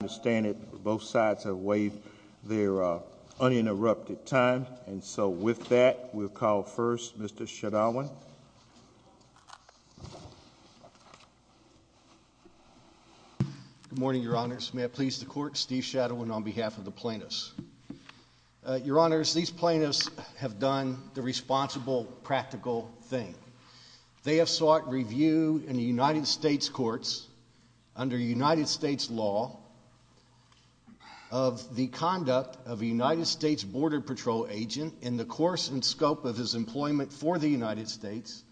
understand it both sides have waived their uninterrupted time and so with that we'll call first Mr. Shadowin. Good morning your honors may I please the court Steve Shadowin on behalf of the plaintiffs. Your honors these plaintiffs have done the responsible practical thing. They have sought review in the United States courts under United States law of the conduct of a United States Border Patrol agent in the course and scope of his employment for the United States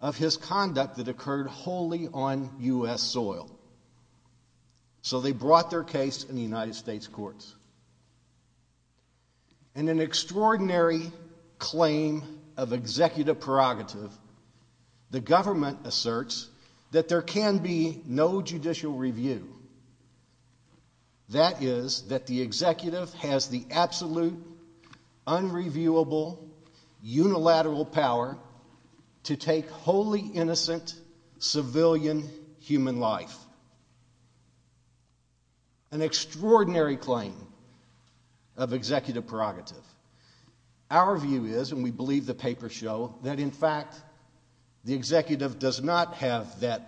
of his conduct that occurred wholly on US soil. So they brought their case in the United States courts. In an extraordinary claim of executive prerogative the government asserts that there can be no judicial review. That is that the executive has the absolute unreviewable unilateral power to take wholly innocent civilian human life. An extraordinary claim of executive prerogative. Our view is and we do not have that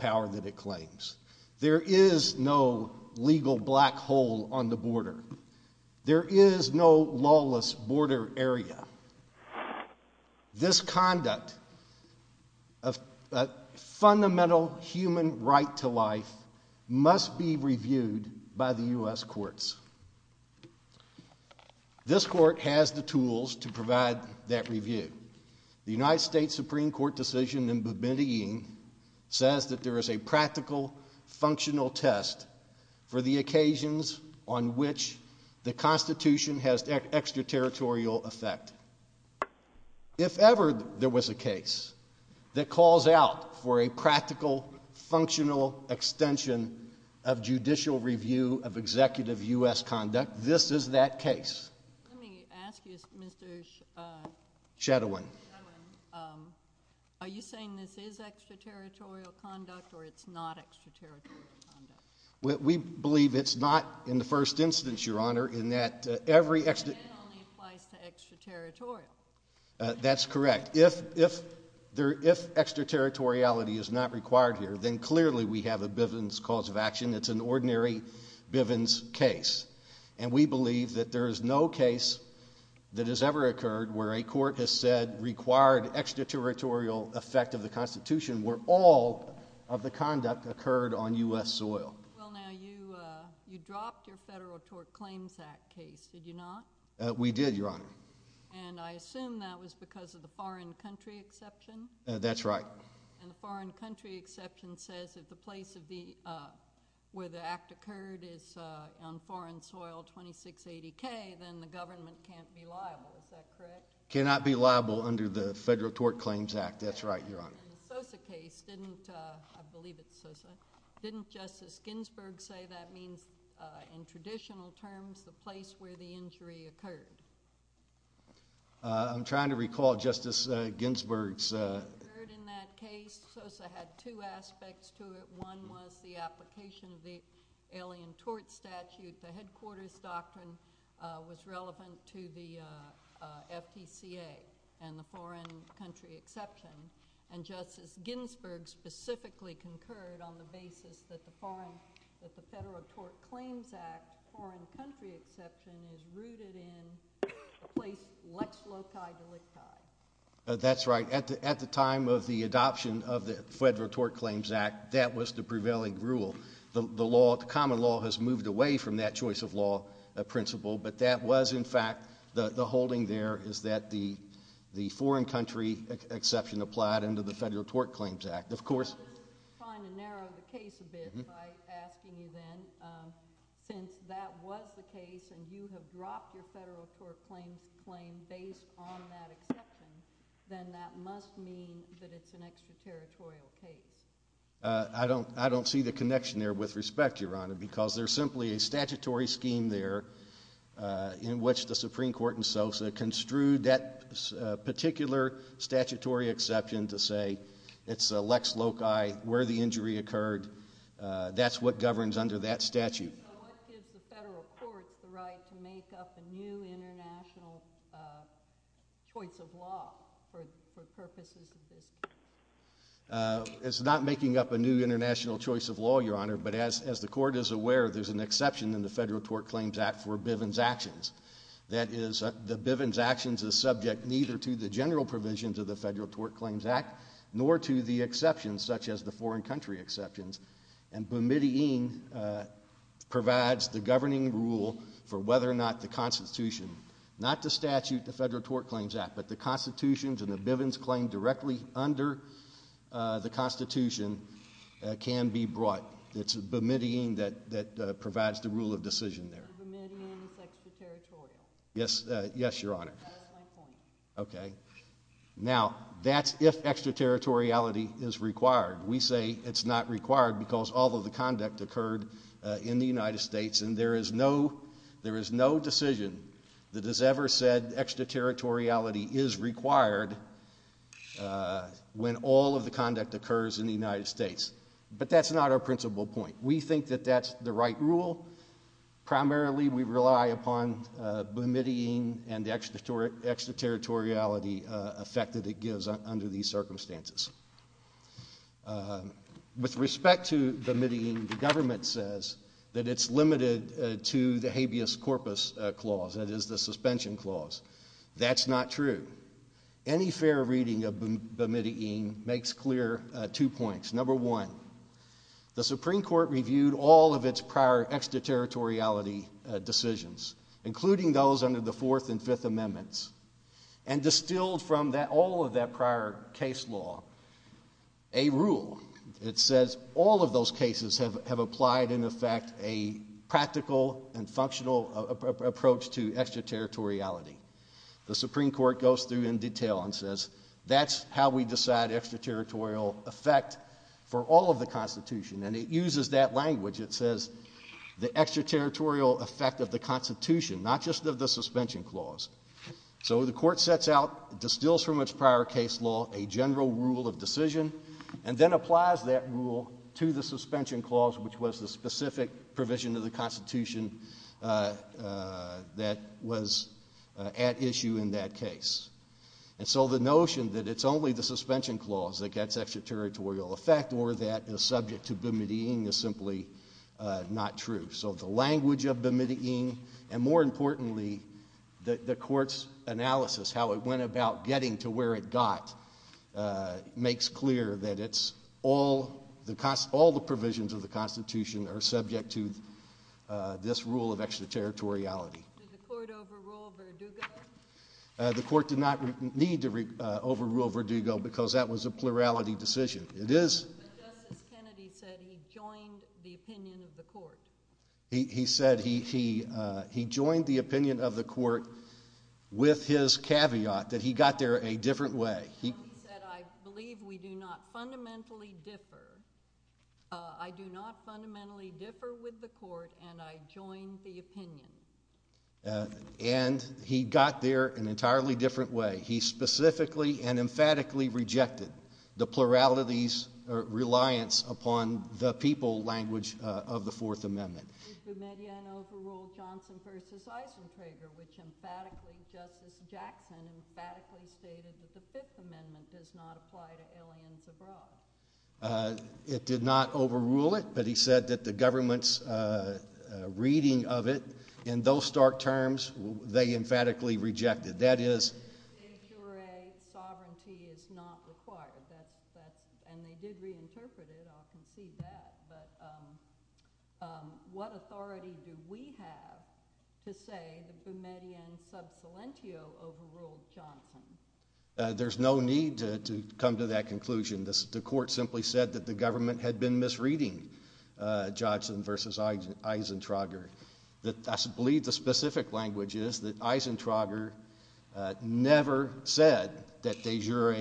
power that it claims. There is no legal black hole on the border. There is no lawless border area. This conduct of a fundamental human right to life must be reviewed by the US courts. This court has the tools to says that there is a practical functional test for the occasions on which the Constitution has extraterritorial effect. If ever there was a case that calls out for a practical functional extension of judicial review of executive US conduct this is that case. Let me ask you Mr. Shadowin. Are you saying this is extraterritorial conduct or it's not extraterritorial conduct. We believe it's not in the first instance your honor in that every extraterritorial. That's correct. If if there if extraterritoriality is not required here then clearly we have a Bivens cause of action. It's an ordinary Bivens case and we believe that there is no case that has ever occurred where a court has said required extraterritorial effect of the Constitution were all of the conduct occurred on US soil. You dropped your Federal Tort Claims Act case did you not? We did your honor. And I assume that was because of the foreign country exception. That's right. And the foreign country exception says if the place of the where the act occurred is on foreign soil 2680 K then the government can't be liable. Is that correct? Cannot be liable under the Federal Tort Claims Act. That's right your honor. Sosa case didn't I believe it's Sosa. Didn't Justice Ginsburg say that means in traditional terms the place where the injury occurred? I'm trying to recall Justice Ginsburg's. In that case Sosa had two aspects to it. One was the application of the Alien Tort Statute. The headquarters doctrine was relevant to the FPCA and the foreign country exception and Justice Ginsburg specifically concurred on the basis that the foreign that the Federal Tort Claims Act was the prevailing rule. The law the common law has moved away from that choice of law principle but that was in fact the holding there is that the the foreign country exception applied under the Federal Tort Claims Act. Of course. I'm trying to narrow the case a bit by asking you then since that was the case and you have dropped your Federal Tort Claims Claim based on that exception then that must mean that it's an extraterritorial case. I don't I don't see the connection there with respect your honor because they're simply a statutory scheme there in which the Supreme Court and Sosa construed that particular statutory exception to say it's a Lex Loci where the injury occurred. That's what governs under that statute. So what gives the federal court the right to make up a new international choice of law for purposes of this? It's not making up a new international choice of law your honor but as as the court is aware there's an exception in the Federal Tort Claims Act for Bivens actions. That is the Bivens actions is subject neither to the general provisions of the Federal Tort Claims Act nor to the exceptions such as the foreign country exceptions. And Bemidine provides the governing rule for whether or not the Constitution not the statute the Federal Tort Claims Act but the Constitutions and the Bivens claim directly under the Constitution can be brought. It's Bemidine that that provides the rule of decision there. Yes yes your honor. Okay now that's if extraterritoriality is required we say it's not required because all of the conduct occurred in the United States and there is no there is no decision that has ever said extraterritoriality is required when all of the conduct occurs in the United States. But that's not our principal point. We think that that's the right rule. Primarily we rely upon Bemidine and the extraterritoriality effect that it gives under these circumstances. With respect to Bemidine the government says that it's limited to the habeas corpus clause that is the suspension clause. That's not true. Any fair reading of Bemidine makes clear two points. Number one the Supreme Court reviewed all of its prior extraterritoriality decisions including those under the fourth and fifth amendments and distilled from that all of that prior case law a rule. It says all of those cases have applied in effect a practical and functional approach to extraterritoriality. The Supreme Court goes through in detail and says that's how we decide extraterritorial effect for all of the Constitution. And it uses that language. It says the extraterritorial effect of the Constitution not just of the suspension clause. So the court sets out distills from its prior case law a general rule of decision and then applies that rule to the suspension clause which was the specific provision of the Constitution that was at issue in that case. And so the notion that it's only the suspension clause that gets extraterritorial effect or that is subject to Bemidine is simply not true. So the language of Bemidine and more importantly the court's analysis how it went about getting to where it got makes clear that all the provisions of the Constitution are subject to this rule of extraterritoriality. Did the court overrule Verdugo? The court did not need to overrule Verdugo because that was a plurality decision. But Justice Kennedy said he joined the opinion of the court. He said he joined the opinion of the court with his caveat that he got there a different way. He said I believe we do not fundamentally differ. I do not fundamentally differ with the court and I joined the opinion. And he got there an entirely different way. He specifically and emphatically rejected the plurality's reliance upon the people language of the Fourth Amendment. Did Bemidine overrule Johnson v. Eisenhager which emphatically Justice Jackson emphatically stated that the Fifth Amendment does not apply to aliens abroad? It did not overrule it but he said that the government's reading of it in those stark terms they emphatically rejected. H.R.A. sovereignty is not required and they did reinterpret it. I'll concede that. But what authority do we have to say that Bemidine sub salentio overruled Johnson? There's no need to come to that conclusion. The court simply said that the government had been misreading Johnson v. Eisenhager. I believe the specific language is that Eisenhager never said that de jure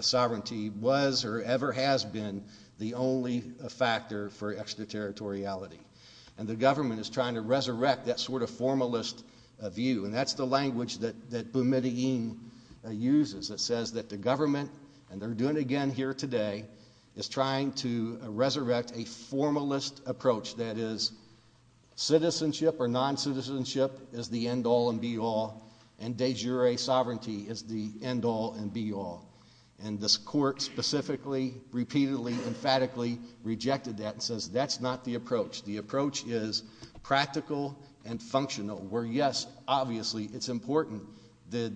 sovereignty was or ever has been the only factor for extraterritoriality. And the government is trying to resurrect that sort of formalist view and that's the language that Bemidine uses. It says that the government and they're doing it again here today is trying to resurrect a formalist approach. That is citizenship or non-citizenship is the end all and be all and de jure sovereignty is the end all and be all. And this court specifically repeatedly emphatically rejected that and says that's not the approach. The approach is practical and functional where yes, obviously it's important that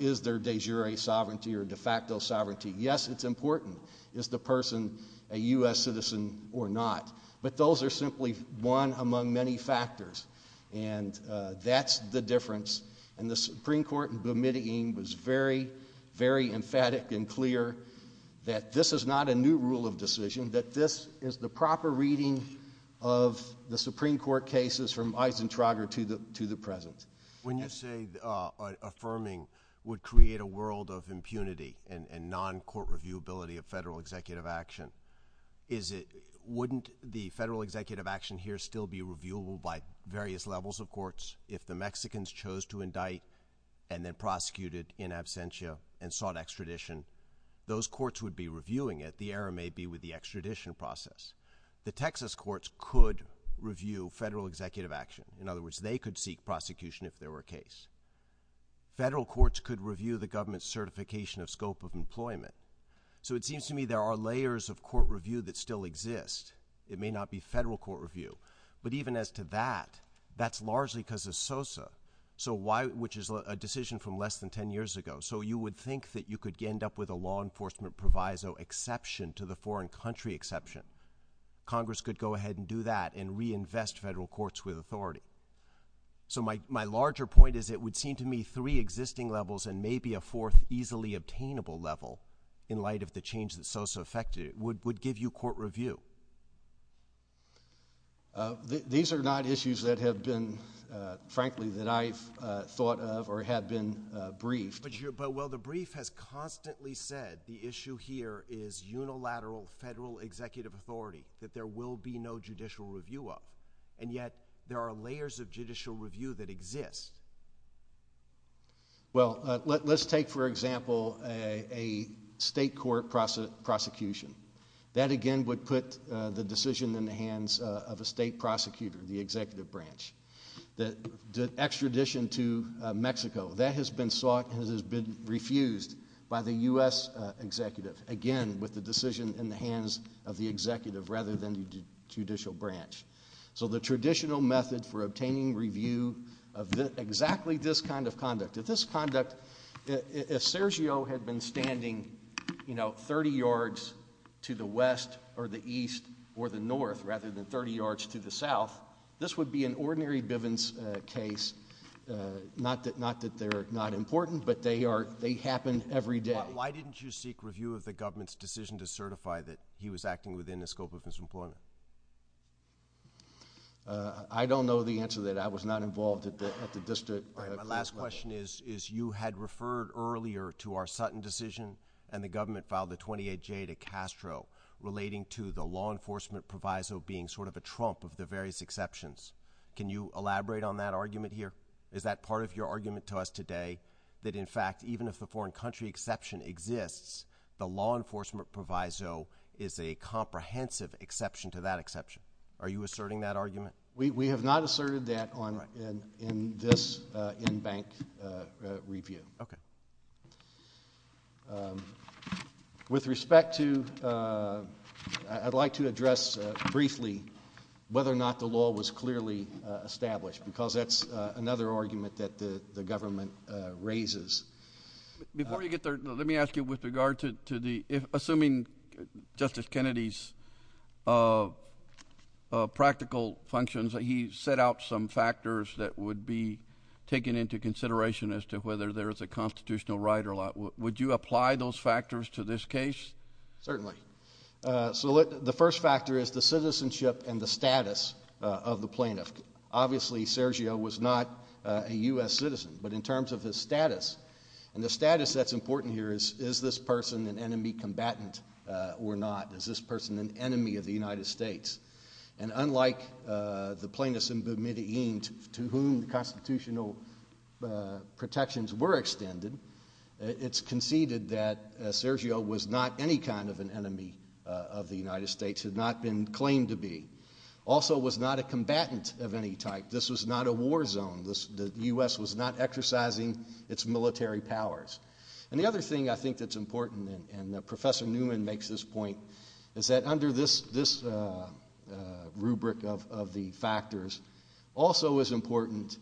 is there de jure sovereignty or de facto sovereignty? Yes, it's important. Is the person a U.S. citizen or not? But those are simply one among many factors and that's the difference. And the Supreme Court in Bemidine was very, very emphatic and clear that this is not a new rule of decision, that this is the proper reading of the Supreme Court cases from Eisenhager to the present. When you say affirming would create a world of impunity and non-court reviewability of federal executive action, wouldn't the federal executive action here still be reviewable by various levels of courts? If the Mexicans chose to indict and then prosecuted in absentia and sought extradition, those courts would be reviewing it. The error may be with the extradition process. The Texas courts could review federal executive action. In other words, they could seek prosecution if there were a case. Federal courts could review the government's certification of scope of employment. So it seems to me there are layers of court review that still exist. It may not be federal court review. But even as to that, that's largely because of SOSA, which is a decision from less than 10 years ago. So you would think that you could end up with a law enforcement proviso exception to the foreign country exception. Congress could go ahead and do that and reinvest federal courts with authority. So my larger point is it would seem to me three existing levels and maybe a fourth easily obtainable level, in light of the change that SOSA effected, would give you court review. These are not issues that have been, frankly, that I've thought of or have been briefed. But while the brief has constantly said the issue here is unilateral federal executive authority, that there will be no judicial review of, and yet there are layers of judicial review that exist. Well, let's take, for example, a state court prosecution. That, again, would put the decision in the hands of a state prosecutor, the executive branch. The extradition to Mexico, that has been sought and has been refused by the U.S. executive, again, with the decision in the hands of the executive rather than the judicial branch. So the traditional method for obtaining review of exactly this kind of conduct. If this conduct, if Sergio had been standing, you know, 30 yards to the west or the east or the north, rather than 30 yards to the south, this would be an ordinary Bivens case. Not that they're not important, but they happen every day. Why didn't you seek review of the government's decision to certify that he was acting within the scope of his employment? I don't know the answer to that. I was not involved at the district. My last question is, you had referred earlier to our Sutton decision, and the government filed the 28J to Castro relating to the law enforcement proviso being sort of a trump of the various exceptions. Can you elaborate on that argument here? Is that part of your argument to us today, that in fact, even if the foreign country exception exists, the law enforcement proviso is a comprehensive exception to that exception? Are you asserting that argument? We have not asserted that in this in-bank review. Okay. With respect to, I'd like to address briefly whether or not the law was clearly established, because that's another argument that the government raises. Before you get there, let me ask you with regard to the, assuming Justice Kennedy's practical functions, he set out some factors that would be taken into consideration as to whether there is a constitutional right or not. Would you apply those factors to this case? Certainly. So the first factor is the citizenship and the status of the plaintiff. Obviously, Sergio was not a U.S. citizen, but in terms of his status, and the status that's important here is, is this person an enemy combatant or not? Is this person an enemy of the United States? And unlike the plaintiffs in Bermuda Inn to whom the constitutional protections were extended, it's conceded that Sergio was not any kind of an enemy of the United States, had not been claimed to be. Also was not a combatant of any type. This was not a war zone. The U.S. was not exercising its military powers. And the other thing I think that's important, and Professor Newman makes this point, is that under this rubric of the factors, also is important,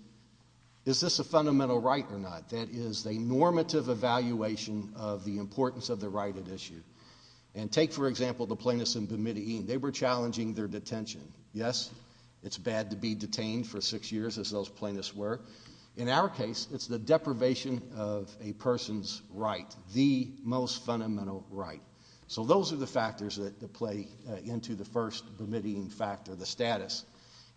is this a fundamental right or not? That is a normative evaluation of the importance of the right at issue. And take, for example, the plaintiffs in Bermuda Inn. They were challenging their detention. Yes, it's bad to be detained for six years, as those plaintiffs were. In our case, it's the deprivation of a person's right, the most fundamental right. So those are the factors that play into the first Bermuda Inn factor, the status.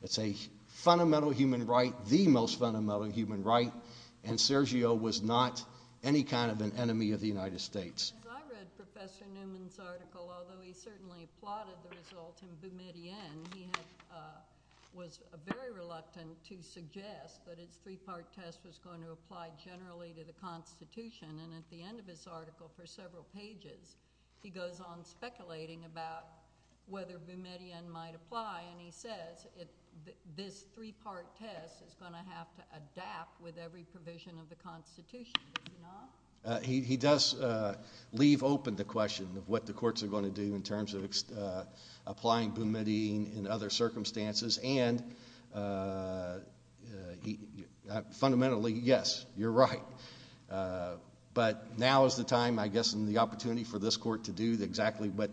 It's a fundamental human right, the most fundamental human right, and Sergio was not any kind of an enemy of the United States. I read Professor Newman's article, although he certainly plotted the results in Bermuda Inn. He was very reluctant to suggest that his three-part test was going to apply generally to the Constitution. And at the end of his article, for several pages, he goes on speculating about whether Bermuda Inn might apply. And he says this three-part test is going to have to adapt with every provision of the Constitution. He does leave open the question of what the courts are going to do in terms of applying Bermuda Inn in other circumstances. And fundamentally, yes, you're right. But now is the time, I guess, and the opportunity for this court to do exactly what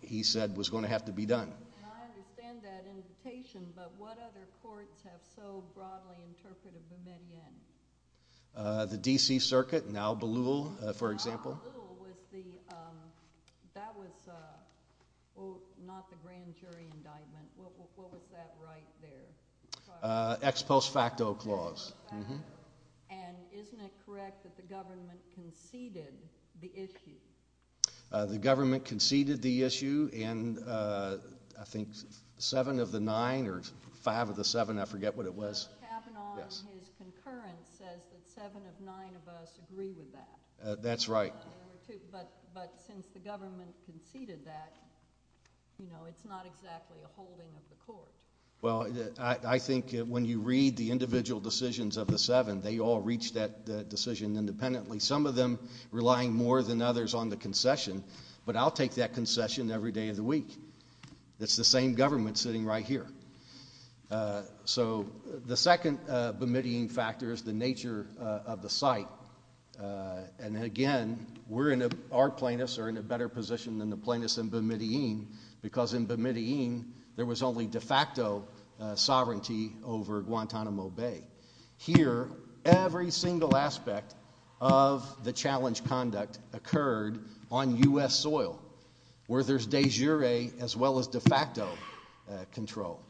he said was going to have to be done. And I understand that invitation, but what other courts have so broadly interpreted Bermuda Inn? The D.C. Circuit and Al Balul, for example. Al Balul was the – that was – well, not the grand jury indictment. What was that right there? Ex post facto clause. And isn't it correct that the government conceded the issue? The government conceded the issue, and I think seven of the nine or five of the seven, I forget what it was. Yes. Kavanaugh in his concurrence says that seven of nine of us agree with that. That's right. But since the government conceded that, it's not exactly a holding of the court. Well, I think when you read the individual decisions of the seven, they all reached that decision independently. Some of them relying more than others on the concession, but I'll take that concession every day of the week. It's the same government sitting right here. So the second Bermuda Inn factor is the nature of the site. And again, we're in – our plaintiffs are in a better position than the plaintiffs in Bermuda Inn because in Bermuda Inn there was only de facto sovereignty over Guantanamo Bay. Here, every single aspect of the challenge conduct occurred on U.S. soil where there's de jure as well as de facto control.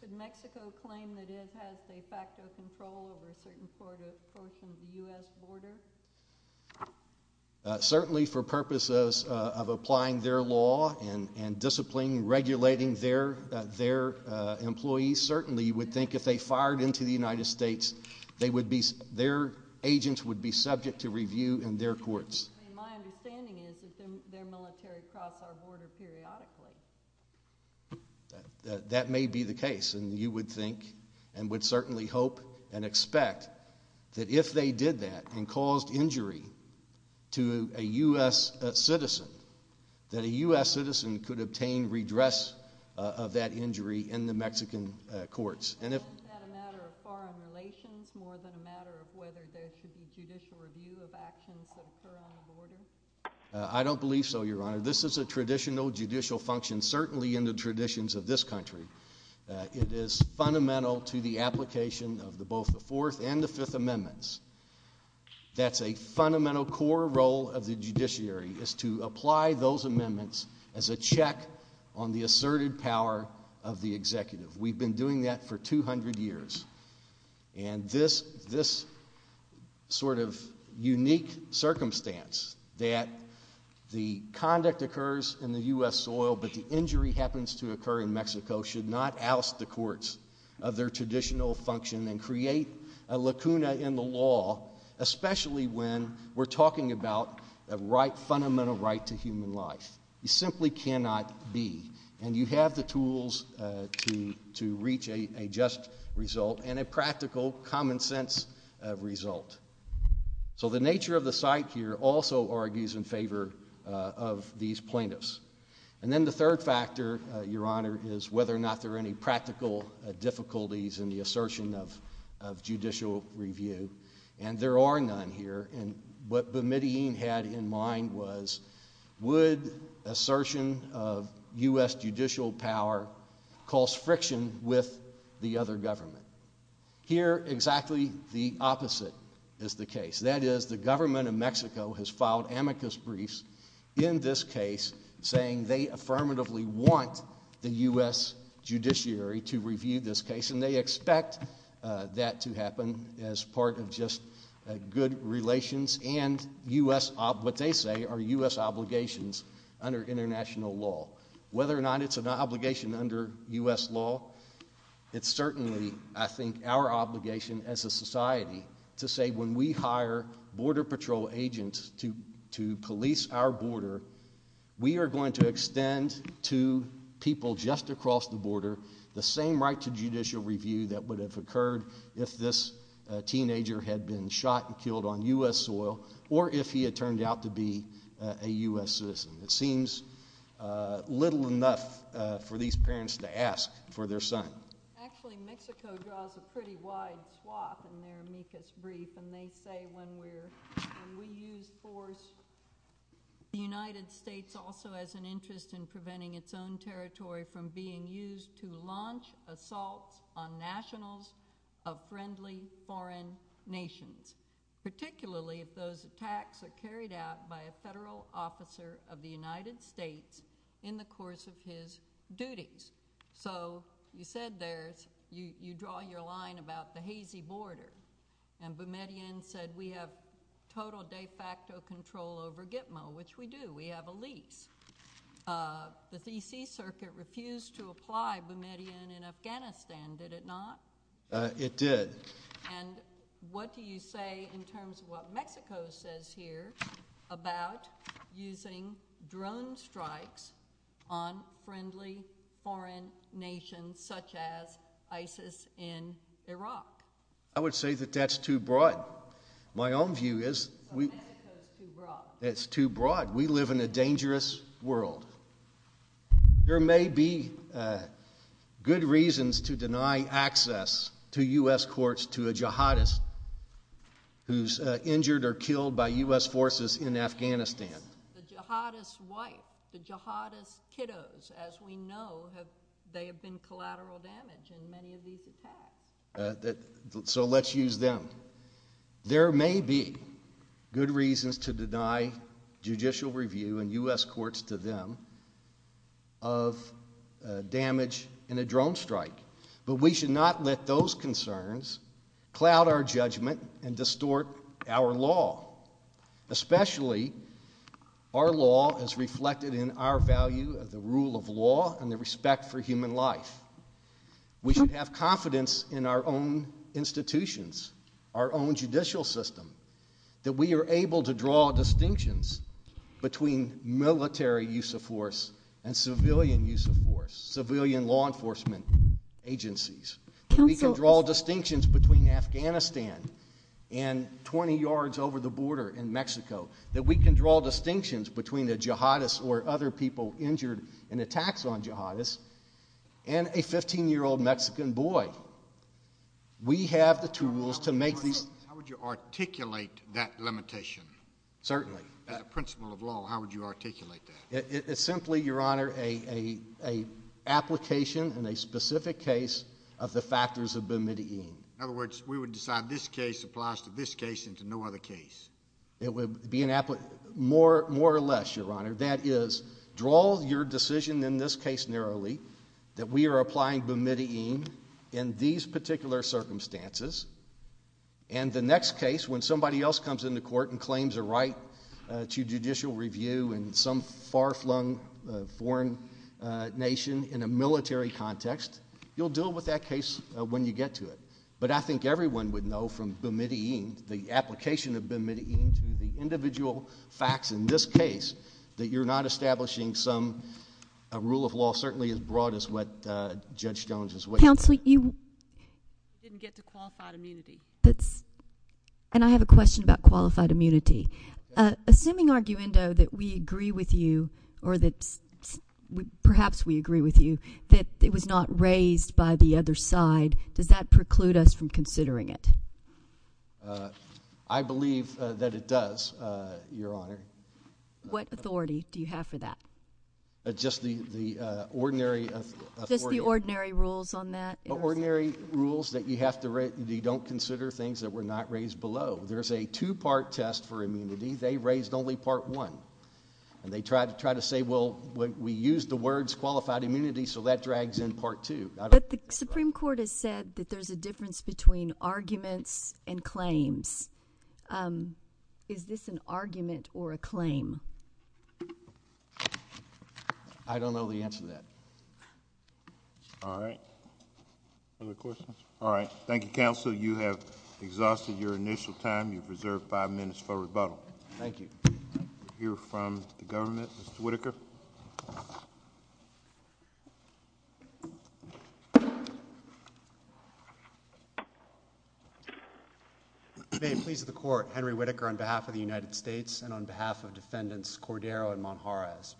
Could Mexico claim that it has de facto control over a certain portion of the U.S. border? Certainly for purposes of applying their law and disciplining, regulating their employees. Certainly you would think if they fired into the United States, they would be – their agents would be subject to review in their courts. My understanding is that their military cross our border periodically. That may be the case. And you would think and would certainly hope and expect that if they did that and caused injury to a U.S. citizen, that a U.S. citizen could obtain redress of that injury in the Mexican courts. Isn't that a matter of foreign relations more than a matter of whether there should be judicial review of actions that occur on the border? I don't believe so, Your Honor. This is a traditional judicial function, certainly in the traditions of this country. It is fundamental to the application of both the Fourth and the Fifth Amendments. That's a fundamental core role of the judiciary is to apply those amendments as a check on the asserted power of the executive. We've been doing that for 200 years. And this sort of unique circumstance that the conduct occurs in the U.S. soil but the injury happens to occur in Mexico should not oust the courts of their traditional function and create a lacuna in the law, especially when we're talking about a fundamental right to human life. It simply cannot be. And you have the tools to reach a just result and a practical, common sense result. So the nature of the site here also argues in favor of these plaintiffs. And then the third factor, Your Honor, is whether or not there are any practical difficulties in the assertion of judicial review. And there are none here. And what Bemidjian had in mind was would assertion of U.S. judicial power cause friction with the other government? Here, exactly the opposite is the case. That is, the government of Mexico has filed amicus briefs in this case saying they affirmatively want the U.S. judiciary to review this case. And they expect that to happen as part of just good relations and what they say are U.S. obligations under international law. Whether or not it's an obligation under U.S. law, it's certainly, I think, our obligation as a society to say when we hire border patrol agents to police our border, we are going to extend to people just across the border the same right to judicial review that would have occurred if this teenager had been shot and killed on U.S. soil or if he had turned out to be a U.S. citizen. It seems little enough for these parents to ask for their son. Actually, Mexico draws a pretty wide swath in their amicus brief and they say when we use force, the United States also has an interest in preventing its own territory from being used to launch assaults on nationals of friendly foreign nations, particularly if those attacks are carried out by a federal officer of the United States in the course of his duties. So you said there you draw your line about the hazy border, and Boumediene said we have total de facto control over Gitmo, which we do. We have a lease. The D.C. Circuit refused to apply Boumediene in Afghanistan, did it not? It did. And what do you say in terms of what Mexico says here about using drone strikes on friendly foreign nations such as ISIS in Iraq? I would say that that's too broad. My own view is we – So Mexico is too broad. It's too broad. We live in a dangerous world. There may be good reasons to deny access to U.S. courts to a jihadist who's injured or killed by U.S. forces in Afghanistan. The jihadist wife, the jihadist kiddos, as we know, they have been collateral damage in many of these attacks. So let's use them. There may be good reasons to deny judicial review in U.S. courts to them of damage in a drone strike, but we should not let those concerns cloud our judgment and distort our law, especially our law as reflected in our value of the rule of law and the respect for human life. We should have confidence in our own institutions, our own judicial system, that we are able to draw distinctions between military use of force and civilian use of force, civilian law enforcement agencies, that we can draw distinctions between Afghanistan and 20 yards over the border in Mexico, that we can draw distinctions between a jihadist or other people injured in attacks on jihadists and a 15-year-old Mexican boy. We have the tools to make these— How would you articulate that limitation? Certainly. As a principle of law, how would you articulate that? It's simply, Your Honor, an application in a specific case of the factors of bemidiyin. In other words, we would decide this case applies to this case and to no other case. It would be an—more or less, Your Honor. That is, draw your decision in this case narrowly, that we are applying bemidiyin in these particular circumstances, and the next case, when somebody else comes into court and claims a right to judicial review in some far-flung foreign nation in a military context, you'll deal with that case when you get to it. But I think everyone would know from bemidiyin, the application of bemidiyin to the individual facts in this case, that you're not establishing some rule of law certainly as broad as what Judge Jones is waiting for. Counsel, you didn't get to qualified immunity. And I have a question about qualified immunity. Assuming, arguendo, that we agree with you or that perhaps we agree with you that it was not raised by the other side, does that preclude us from considering it? I believe that it does, Your Honor. What authority do you have for that? Just the ordinary authority. Just the ordinary rules on that? Ordinary rules that you don't consider things that were not raised below. There's a two-part test for immunity. They raised only Part 1. And they try to say, well, we used the words qualified immunity, so that drags in Part 2. But the Supreme Court has said that there's a difference between arguments and claims. Is this an argument or a claim? I don't know the answer to that. All right. Other questions? All right. Thank you, Counsel. You have exhausted your initial time. You've reserved five minutes for rebuttal. Thank you. We'll hear from the government. Mr. Whitaker. May it please the Court. Henry Whitaker on behalf of the United States and on behalf of Defendants Cordero and Monjarez.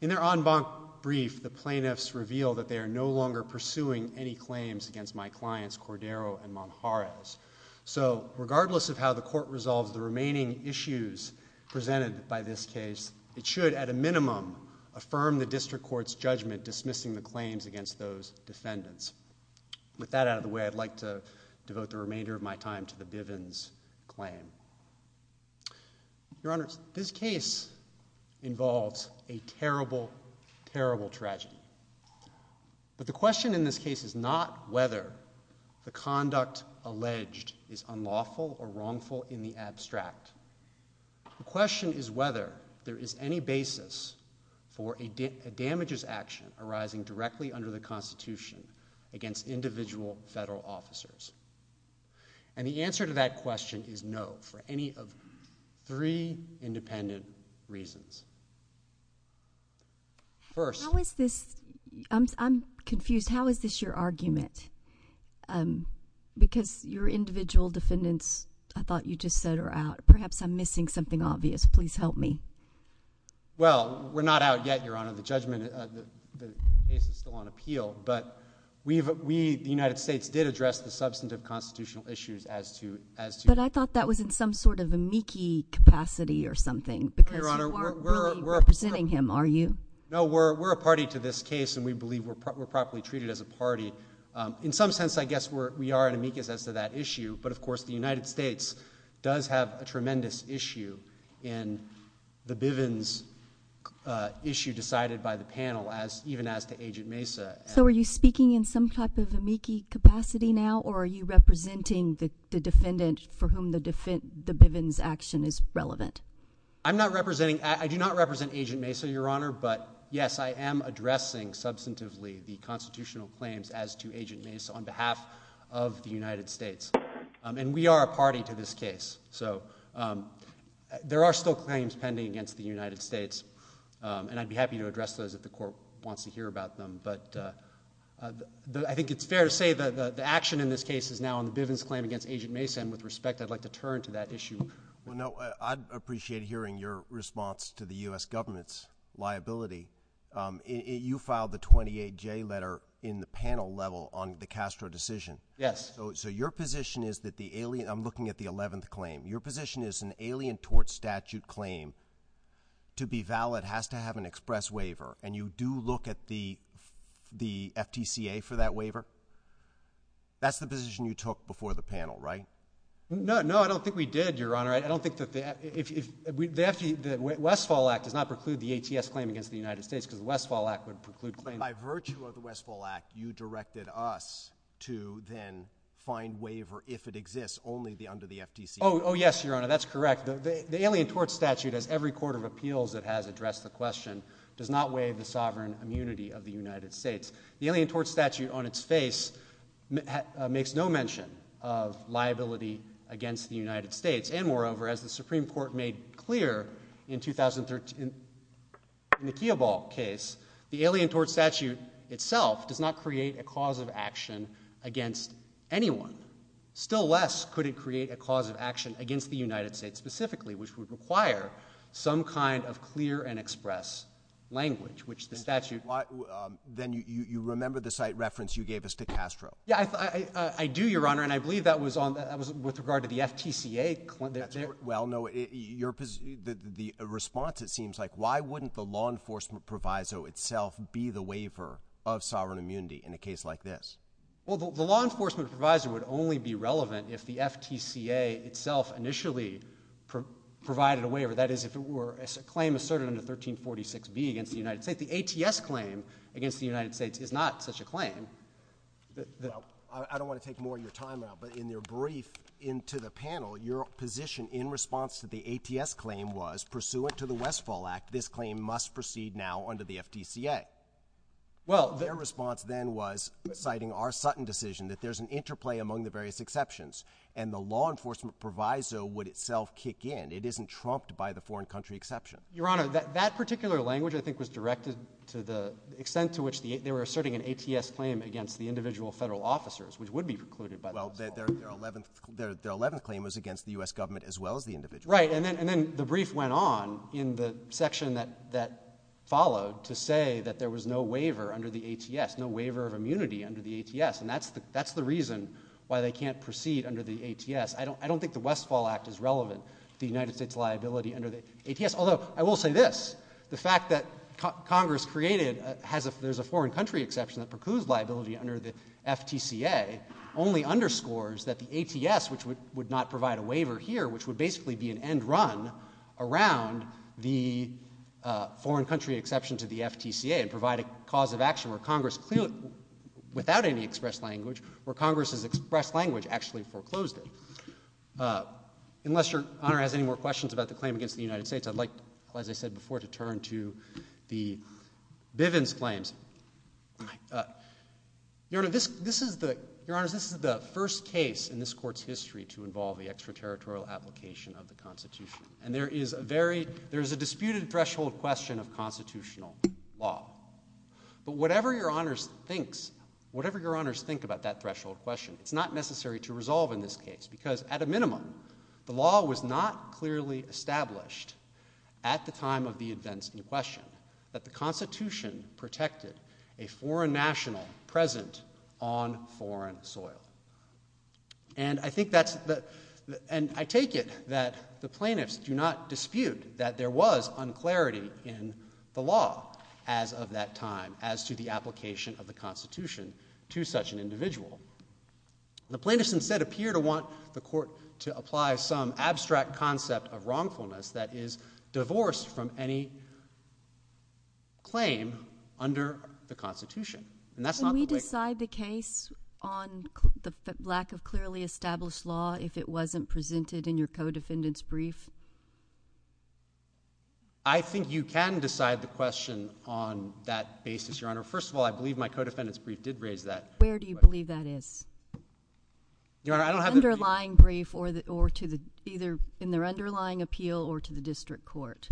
In their en banc brief, the plaintiffs reveal that they are no longer pursuing any claims against my clients, Cordero and Monjarez. So regardless of how the Court resolves the remaining issues presented by this case, it should at a minimum affirm the District Court's judgment dismissing the claims against those defendants. With that out of the way, I'd like to devote the remainder of my time to the Bivens claim. Your Honors, this case involves a terrible, terrible tragedy. But the question in this case is not whether the conduct alleged is unlawful or wrongful in the abstract. The question is whether there is any basis for a damages action arising directly under the Constitution against individual federal officers. And the answer to that question is no for any of three independent reasons. First. I'm confused. How is this your argument? Because your individual defendants, I thought you just said, are out. Perhaps I'm missing something obvious. Please help me. Well, we're not out yet, Your Honor. The case is still on appeal. But we, the United States, did address the substantive constitutional issues as to – But I thought that was in some sort of amici capacity or something. Because you aren't really representing him, are you? No, we're a party to this case, and we believe we're properly treated as a party. In some sense, I guess we are an amicus as to that issue. But, of course, the United States does have a tremendous issue in the Bivens issue decided by the panel, even as to Agent Mesa. So are you speaking in some type of amici capacity now, or are you representing the defendant for whom the Bivens action is relevant? I'm not representing – I do not represent Agent Mesa, Your Honor. But, yes, I am addressing substantively the constitutional claims as to Agent Mesa on behalf of the United States. And we are a party to this case. So there are still claims pending against the United States, and I'd be happy to address those if the court wants to hear about them. But I think it's fair to say that the action in this case is now on the Bivens claim against Agent Mesa. And with respect, I'd like to turn to that issue. Well, no, I'd appreciate hearing your response to the U.S. government's liability. You filed the 28J letter in the panel level on the Castro decision. Yes. So your position is that the alien – I'm looking at the 11th claim. Your position is an alien tort statute claim to be valid has to have an express waiver, and you do look at the FTCA for that waiver? That's the position you took before the panel, right? No, I don't think we did, Your Honor. I don't think that – the Westfall Act does not preclude the ATS claim against the United States because the Westfall Act would preclude claims. But by virtue of the Westfall Act, you directed us to then find waiver if it exists only under the FTCA. Oh, yes, Your Honor. That's correct. The alien tort statute, as every court of appeals that has addressed the question, does not waive the sovereign immunity of the United States. The alien tort statute on its face makes no mention of liability against the United States. And moreover, as the Supreme Court made clear in the Kioball case, the alien tort statute itself does not create a cause of action against anyone. Still less could it create a cause of action against the United States specifically, which would require some kind of clear and express language, which the statute – Then you remember the site reference you gave us to Castro. Yeah, I do, Your Honor, and I believe that was on – that was with regard to the FTCA. Well, no. The response, it seems like, why wouldn't the law enforcement proviso itself be the waiver of sovereign immunity in a case like this? Well, the law enforcement proviso would only be relevant if the FTCA itself initially provided a waiver. That is, if it were a claim asserted under 1346B against the United States. The ATS claim against the United States is not such a claim. Well, I don't want to take more of your time now, but in your brief into the panel, your position in response to the ATS claim was, pursuant to the Westfall Act, this claim must proceed now under the FTCA. Well – Their response then was, citing our Sutton decision, that there's an interplay among the various exceptions, and the law enforcement proviso would itself kick in. It isn't trumped by the foreign country exception. Your Honor, that particular language, I think, was directed to the extent to which they were asserting an ATS claim against the individual Federal officers, which would be precluded by the Westfall Act. Well, their 11th claim was against the U.S. Government as well as the individual. Right, and then the brief went on in the section that followed to say that there was no waiver under the ATS, no waiver of immunity under the ATS, and that's the reason why they can't proceed under the ATS. I don't think the Westfall Act is relevant to the United States' liability under the ATS. Although, I will say this. The fact that Congress created – there's a foreign country exception that precludes liability under the FTCA only underscores that the ATS, which would not provide a waiver here, which would basically be an end run around the foreign country exception to the FTCA and provide a cause of action where Congress, without any expressed language, where Congress's expressed language actually foreclosed it. Unless Your Honor has any more questions about the claim against the United States, I'd like, as I said before, to turn to the Bivens claims. Your Honor, this is the first case in this Court's history to involve the extraterritorial application of the Constitution. And there is a very – there is a disputed threshold question of constitutional law. But whatever Your Honors thinks – whatever Your Honors think about that threshold question, it's not necessary to resolve in this case because, at a minimum, the law was not clearly established at the time of the events in question that the Constitution protected a foreign national present on foreign soil. And I think that's the – and I take it that the plaintiffs do not dispute that there was unclarity in the law as of that time as to the application of the Constitution to such an individual. The plaintiffs instead appear to want the Court to apply some abstract concept of wrongfulness that is divorced from any claim under the Constitution. And that's not the way – Can we decide the case on the lack of clearly established law if it wasn't presented in your co-defendant's brief? I think you can decide the question on that basis, Your Honor. First of all, I believe my co-defendant's brief did raise that. Where do you believe that is? Your Honor, I don't have the – The underlying brief or to the – either in their underlying appeal or to the district court.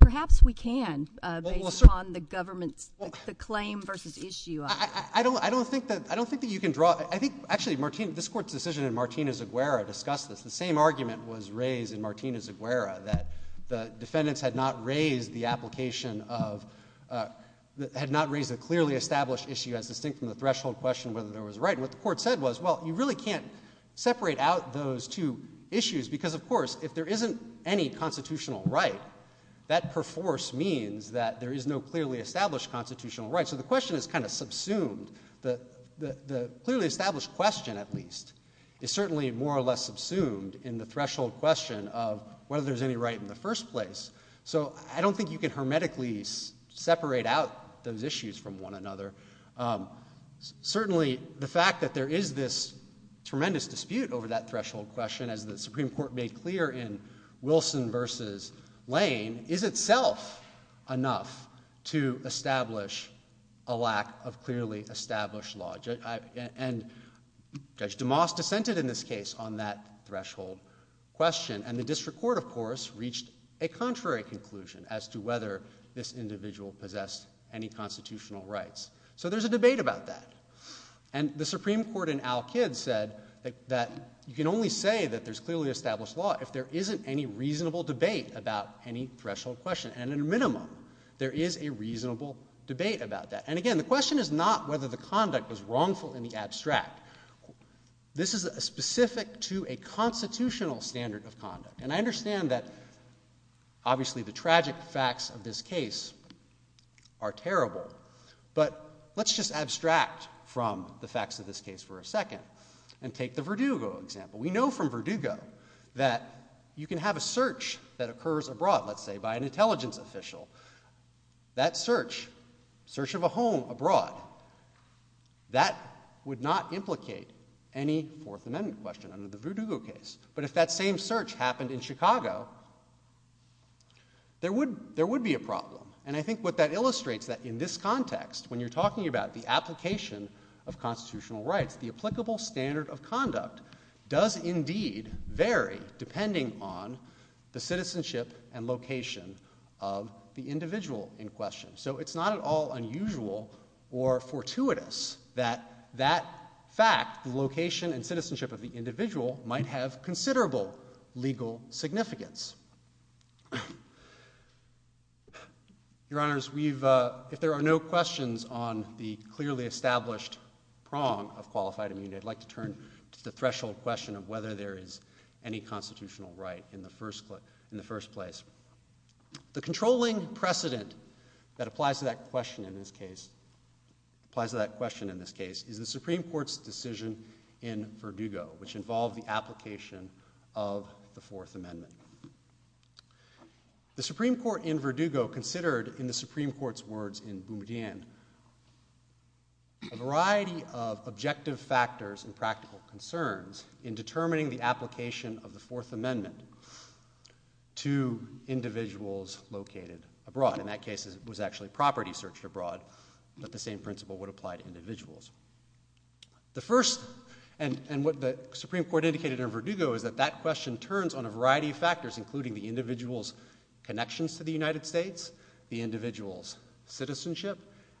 Perhaps we can based on the government's – the claim versus issue. I don't think that you can draw – I think, actually, this Court's decision in Martinez-Aguerra discussed this. The same argument was raised in Martinez-Aguerra that the defendants had not raised the application of – had not raised a clearly established issue as distinct from the threshold question whether there was a right. And what the Court said was, well, you really can't separate out those two issues. Because, of course, if there isn't any constitutional right, that perforce means that there is no clearly established constitutional right. So the question is kind of subsumed. The clearly established question, at least, is certainly more or less subsumed in the threshold question of whether there's any right in the first place. So I don't think you can hermetically separate out those issues from one another. Certainly, the fact that there is this tremendous dispute over that threshold question, as the Supreme Court made clear in Wilson v. Lane, is itself enough to establish a lack of clearly established logic. And Judge DeMoss dissented in this case on that threshold question. And the district court, of course, reached a contrary conclusion as to whether this individual possessed any constitutional rights. So there's a debate about that. And the Supreme Court in Al-Kidd said that you can only say that there's clearly established law if there isn't any reasonable debate about any threshold question. And at a minimum, there is a reasonable debate about that. And, again, the question is not whether the conduct was wrongful in the abstract. This is specific to a constitutional standard of conduct. And I understand that, obviously, the tragic facts of this case are terrible. But let's just abstract from the facts of this case for a second and take the Verdugo example. We know from Verdugo that you can have a search that occurs abroad, let's say, by an intelligence official. That search, search of a home abroad, that would not implicate any Fourth Amendment question under the Verdugo case. But if that same search happened in Chicago, there would be a problem. And I think what that illustrates that in this context, when you're talking about the application of constitutional rights, the applicable standard of conduct does indeed vary depending on the citizenship and location of the individual in question. So it's not at all unusual or fortuitous that that fact, the location and citizenship of the individual, might have considerable legal significance. Your Honors, we've, if there are no questions on the clearly established prong of qualified immunity, I'd like to turn to the threshold question of whether there is any constitutional right in the first place. The controlling precedent that applies to that question in this case, applies to that question in this case, is the Supreme Court's decision in Verdugo, which involved the application of the Fourth Amendment. The Supreme Court in Verdugo considered, in the Supreme Court's words in Boumediene, a variety of objective factors and practical concerns in determining the application of the Fourth Amendment to individuals located abroad. In that case, it was actually property searched abroad, but the same principle would apply to individuals. The first, and what the Supreme Court indicated in Verdugo, is that that question turns on a variety of factors, including the individual's connections to the United States, the individual's citizenship,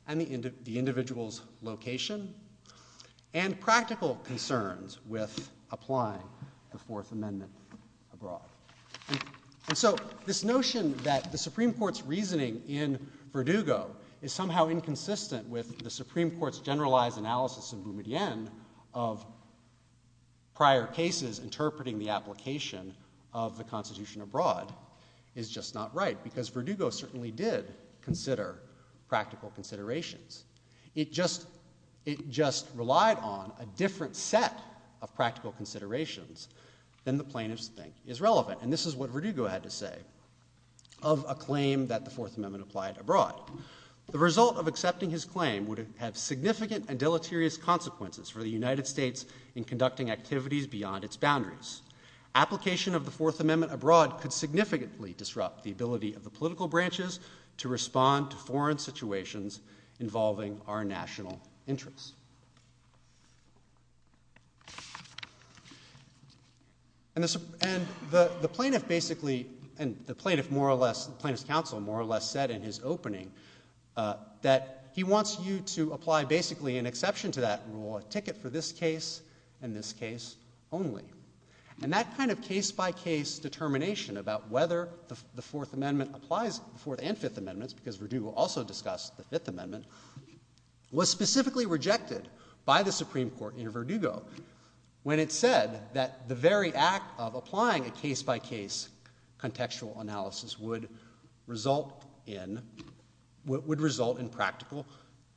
and the individual's location, and practical concerns with applying the Fourth Amendment abroad. And so, this notion that the Supreme Court's reasoning in Verdugo is somehow inconsistent with the Supreme Court's generalized analysis in Boumediene of prior cases interpreting the application of the Constitution abroad, is just not right, because Verdugo certainly did consider practical considerations. It just relied on a different set of practical considerations than the plaintiffs think is relevant. And this is what Verdugo had to say of a claim that the Fourth Amendment applied abroad. The result of accepting his claim would have significant and deleterious consequences for the United States in conducting activities beyond its boundaries. Application of the Fourth Amendment abroad could significantly disrupt the ability of the political branches to respond to foreign situations involving our national interests. And the plaintiff basically, and the plaintiff more or less, the plaintiff's counsel more or less said in his opening, that he wants you to apply basically an exception to that rule, a ticket for this case and this case only. And that kind of case-by-case determination about whether the Fourth Amendment applies, the Fourth and Fifth Amendments, because Verdugo also discussed the Fifth Amendment, was specifically rejected by the Supreme Court in Verdugo, when it said that the very act of applying a case-by-case contextual analysis would result in, would result in practical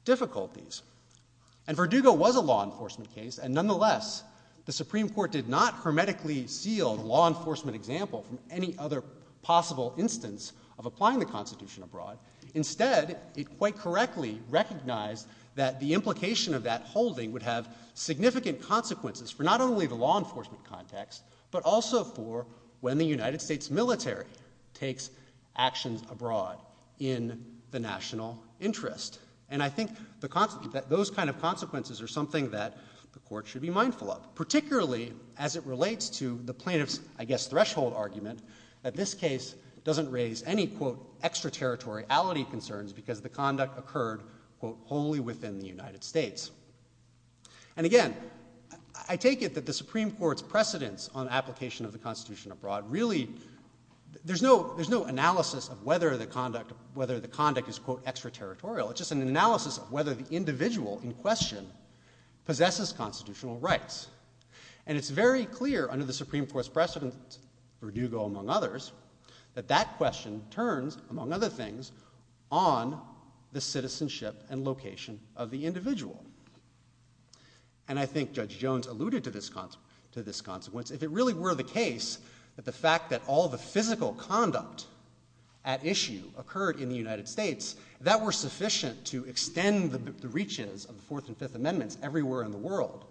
difficulties. And Verdugo was a law enforcement case, and nonetheless, the Supreme Court did not hermetically seal the law enforcement example from any other possible instance of applying the Constitution abroad. Instead, it quite correctly recognized that the implication of that holding would have significant consequences for not only the law enforcement context, but also for when the United States military takes actions abroad in the national interest. And I think that those kind of consequences are something that the Court should be mindful of, particularly as it relates to the plaintiff's, I guess, threshold argument, that this case doesn't raise any, quote, extraterritoriality concerns because the conduct occurred, quote, wholly within the United States. And again, I take it that the Supreme Court's precedence on application of the Constitution abroad really, there's no analysis of whether the conduct is, quote, extraterritorial. It's just an analysis of whether the individual in question possesses constitutional rights. And it's very clear under the Supreme Court's precedence, Verdugo among others, that that question turns, among other things, on the citizenship and location of the individual. And I think Judge Jones alluded to this consequence. If it really were the case that the fact that all the physical conduct at issue occurred in the United States, that were sufficient to extend the reaches of the Fourth and Fifth Amendments everywhere in the world,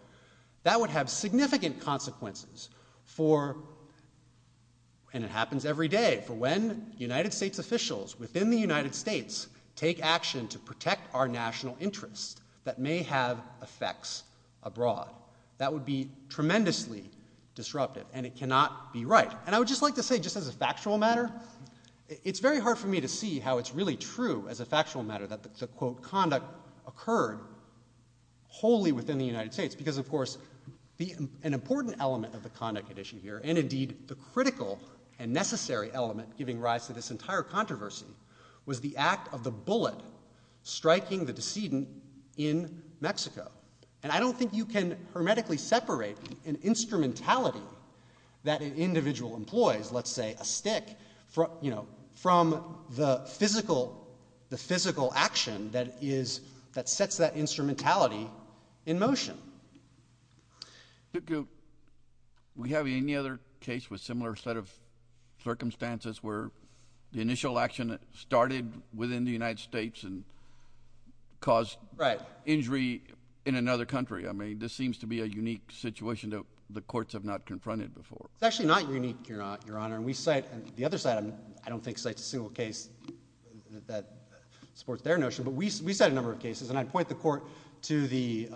that would have significant consequences for, and it happens every day, for when United States officials within the United States take action to protect our national interests that may have effects abroad. That would be tremendously disruptive, and it cannot be right. And I would just like to say, just as a factual matter, it's very hard for me to see how it's really true, as a factual matter, that the, quote, conduct occurred wholly within the United States. Because, of course, an important element of the conduct at issue here, and indeed the critical and necessary element giving rise to this entire controversy, was the act of the bullet striking the decedent in Mexico. And I don't think you can hermetically separate an instrumentality that an individual employs, let's say a stick, from the physical action that sets that instrumentality in motion. Do we have any other case with similar set of circumstances where the initial action started within the United States and caused injury in another country? I mean, this seems to be a unique situation that the courts have not confronted before. It's actually not unique, Your Honor. We cite, the other side, I don't think cites a single case that supports their notion, but we cite a number of cases, and I point the court to the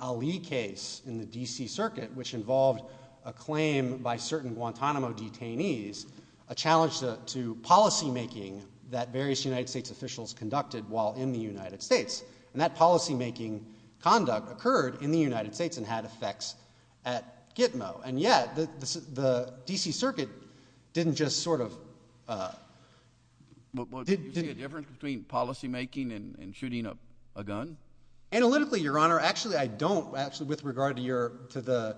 Ali case in the D.C. Circuit, which involved a claim by certain Guantanamo detainees, a challenge to policymaking that various United States officials conducted while in the United States. And that policymaking conduct occurred in the United States and had effects at Gitmo. And yet, the D.C. Circuit didn't just sort of... Did you see a difference between policymaking and shooting a gun? Analytically, Your Honor, actually I don't, with regard to the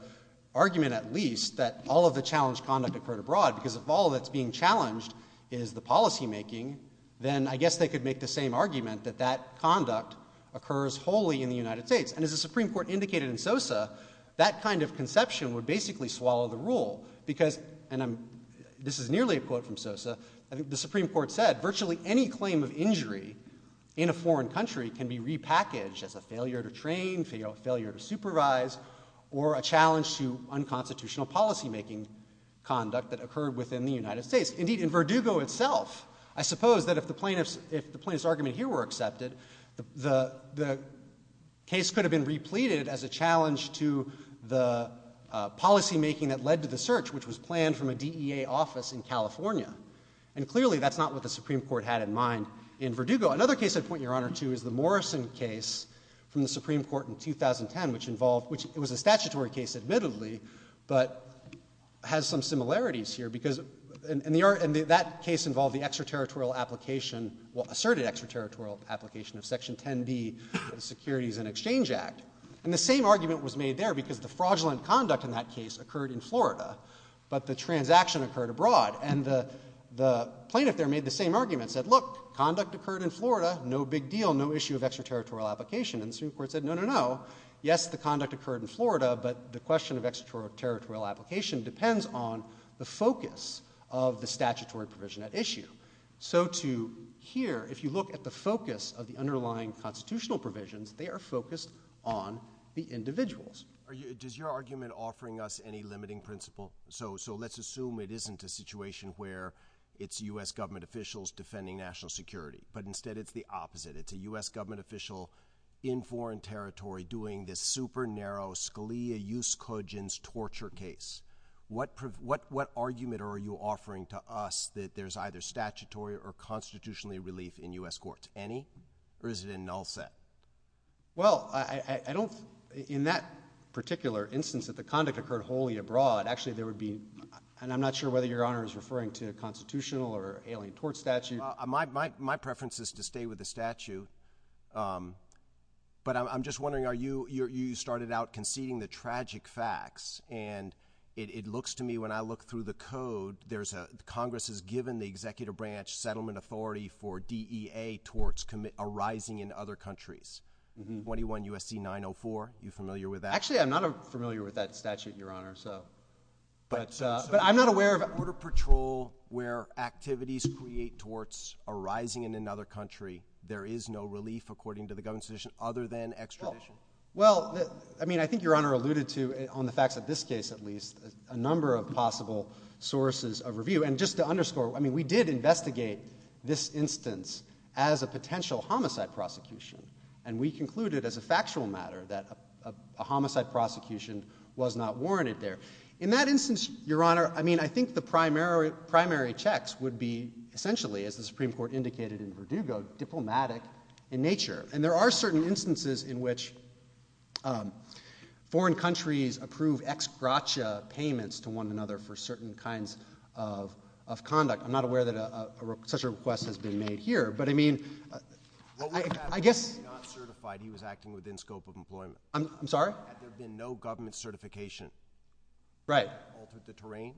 argument at least, that all of the challenged conduct occurred abroad, because if all that's being challenged is the policymaking, then I guess they could make the same argument that that conduct occurs wholly in the United States. And as the Supreme Court indicated in Sosa, that kind of conception would basically swallow the rule, because, and this is nearly a quote from Sosa, the Supreme Court said virtually any claim of injury in a foreign country can be repackaged as a failure to train, failure to supervise, or a challenge to unconstitutional policymaking conduct that occurred within the United States. Indeed, in Verdugo itself, I suppose that if the plaintiff's argument here were accepted, the case could have been repleted as a challenge to the policymaking that led to the search, which was planned from a DEA office in California. And clearly, that's not what the Supreme Court had in mind in Verdugo. Another case I'd point Your Honor to is the Morrison case from the Supreme Court in 2010, which involved, which was a statutory case admittedly, but has some similarities here, because, and that case involved the extraterritorial application, well, asserted extraterritorial application of Section 10B of the Securities and Exchange Act. And the same argument was made there, because the fraudulent conduct in that case occurred in Florida, but the transaction occurred abroad. And the plaintiff there made the same argument, said, look, conduct occurred in Florida, no big deal, no issue of extraterritorial application. And the Supreme Court said, no, no, no, yes, the conduct occurred in Florida, but the question of extraterritorial application depends on the focus of the statutory provision at issue. So to here, if you look at the focus of the underlying constitutional provisions, they are focused on the individuals. Does your argument offering us any limiting principle? So let's assume it isn't a situation where it's U.S. government officials defending national security, but instead it's the opposite. It's a U.S. government official in foreign territory doing this super narrow Scalia-Yuskogin's torture case. What argument are you offering to us that there's either statutory or constitutionally relief in U.S. courts? Any? Or is it a null set? Well, I don't, in that particular instance that the conduct occurred wholly abroad, actually there would be, and I'm not sure whether Your Honor is referring to a constitutional or alien tort statute. My preference is to stay with the statute, but I'm just wondering, you started out conceding the tragic facts, and it looks to me when I look through the code, Congress has given the executive branch settlement authority for DEA torts arising in other countries. 21 U.S.C. 904, are you familiar with that? Actually, I'm not familiar with that statute, Your Honor. But I'm not aware of order patrol where activities create torts arising in another country. There is no relief, according to the government's position, other than extradition. Well, I mean, I think Your Honor alluded to, on the facts of this case at least, a number of possible sources of review. And just to underscore, I mean, we did investigate this instance as a potential homicide prosecution, and we concluded as a factual matter that a homicide prosecution was not warranted there. In that instance, Your Honor, I mean, I think the primary checks would be essentially, as the Supreme Court indicated in Verdugo, diplomatic in nature. And there are certain instances in which foreign countries approve ex gratia payments to one another for certain kinds of conduct. I'm not aware that such a request has been made here. But, I mean, I guess- What we have here is not certified he was acting within scope of employment. I'm sorry? Had there been no government certification. Right. Would it have altered the terrain?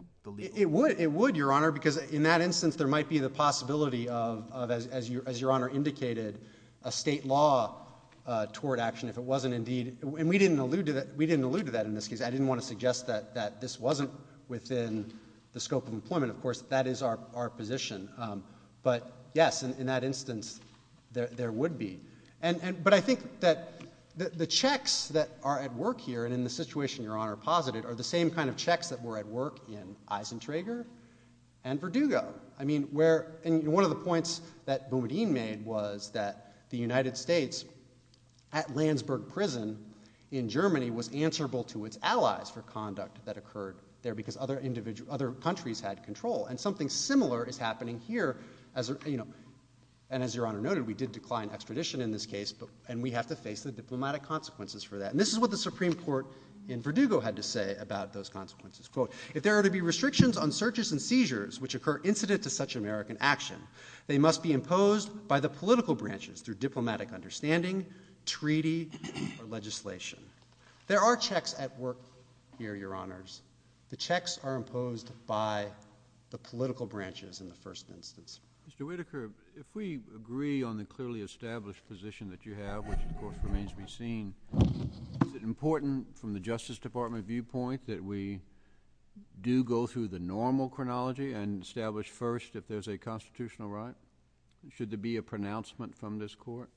It would, Your Honor, because in that instance, there might be the possibility of, as Your Honor indicated, a state law tort action if it wasn't indeed. And we didn't allude to that in this case. I didn't want to suggest that this wasn't within the scope of employment. Of course, that is our position. But, yes, in that instance, there would be. But I think that the checks that are at work here, and in the situation Your Honor posited, are the same kind of checks that were at work in Eisentrager and Verdugo. I mean, one of the points that Boumediene made was that the United States, at Landsberg Prison in Germany, was answerable to its allies for conduct that occurred there because other countries had control. And something similar is happening here. And as Your Honor noted, we did decline extradition in this case, and we have to face the diplomatic consequences for that. And this is what the Supreme Court in Verdugo had to say about those consequences. Quote, if there are to be restrictions on searches and seizures which occur incident to such American action, they must be imposed by the political branches through diplomatic understanding, treaty, or legislation. There are checks at work here, Your Honors. The checks are imposed by the political branches in the first instance. Mr. Whitaker, if we agree on the clearly established position that you have, which, of course, remains to be seen, is it important from the Justice Department viewpoint that we do go through the normal chronology and establish first if there's a constitutional right? Should there be a pronouncement from this Court?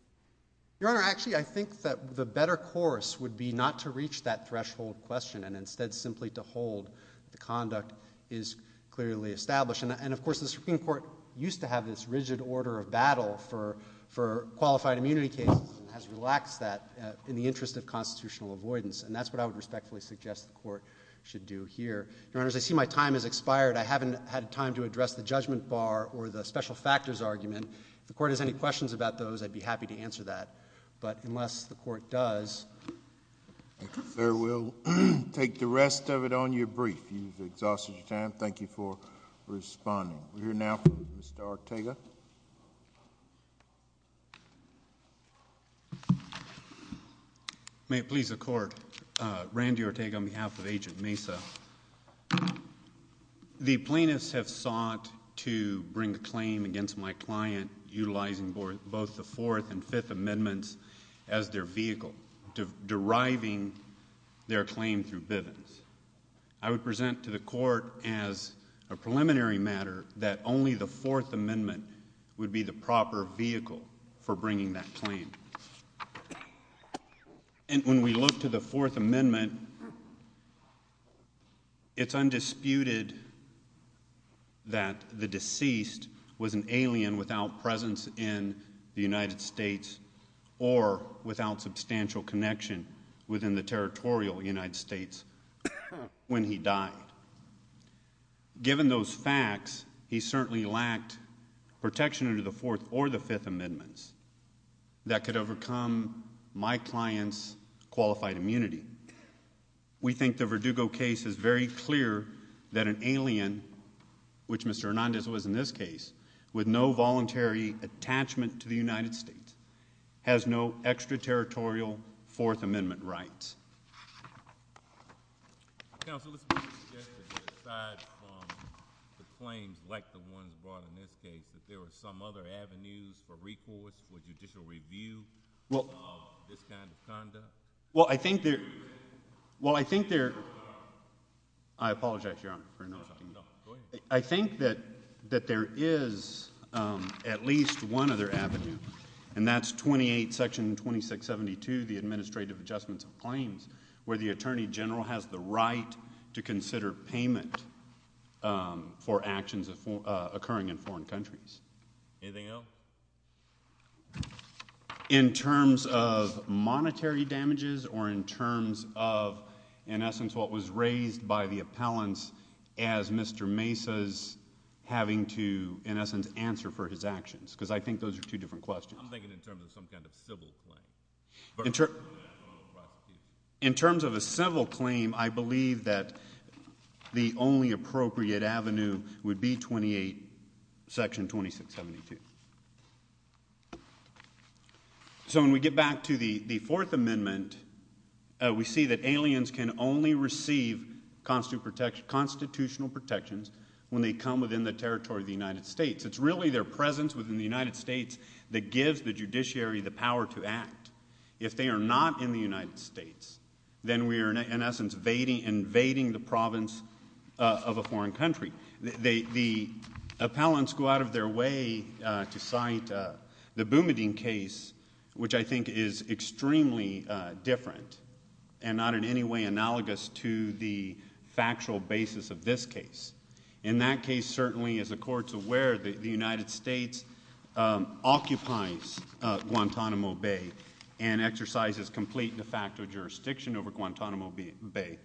Your Honor, actually, I think that the better course would be not to reach that threshold question and instead simply to hold the conduct is clearly established. And, of course, the Supreme Court used to have this rigid order of battle for qualified immunity cases and has relaxed that in the interest of constitutional avoidance. And that's what I would respectfully suggest the Court should do here. Your Honors, I see my time has expired. I haven't had time to address the judgment bar or the special factors argument. If the Court has any questions about those, I'd be happy to answer that. But unless the Court does, I prefer we'll take the rest of it on your brief. You've exhausted your time. Thank you for responding. We'll hear now from Mr. Ortega. May it please the Court. Randy Ortega on behalf of Agent Mesa. The plaintiffs have sought to bring a claim against my client utilizing both the Fourth and Fifth Amendments as their vehicle, deriving their claim through Bivens. I would present to the Court as a preliminary matter that only the Fourth Amendment would be the proper vehicle for bringing that claim. And when we look to the Fourth Amendment, it's undisputed that the deceased was an alien without presence in the United States or without substantial connection within the territorial United States when he died. Given those facts, he certainly lacked protection under the Fourth or the Fifth Amendments that could overcome my client's qualified immunity. We think the Verdugo case is very clear that an alien, which Mr. Hernandez was in this case, with no voluntary attachment to the United States, has no extraterritorial Fourth Amendment rights. Counsel, it's been suggested that aside from the claims like the ones brought in this case, that there are some other avenues for recourse, for judicial review of this kind of conduct? Well, I think there... Well, I think there... I apologize, Your Honor, for interrupting. No, go ahead. I think that there is at least one other avenue, and that's Section 2672, the Administrative Adjustments of Claims, where the Attorney General has the right to consider payment for actions occurring in foreign countries. Anything else? In terms of monetary damages or in terms of, in essence, what was raised by the appellants as Mr. Mesa's having to, in essence, answer for his actions, because I think those are two different questions. I'm thinking in terms of some kind of civil claim. In terms of a civil claim, I believe that the only appropriate avenue would be 28, Section 2672. So when we get back to the Fourth Amendment, we see that aliens can only receive constitutional protections when they come within the territory of the United States. It's really their presence within the United States that gives the judiciary the power to act. If they are not in the United States, then we are, in essence, invading the province of a foreign country. The appellants go out of their way to cite the Boumediene case, which I think is extremely different and not in any way analogous to the factual basis of this case. In that case, certainly, as the Court is aware, the United States occupies Guantanamo Bay and exercises complete de facto jurisdiction over Guantanamo Bay.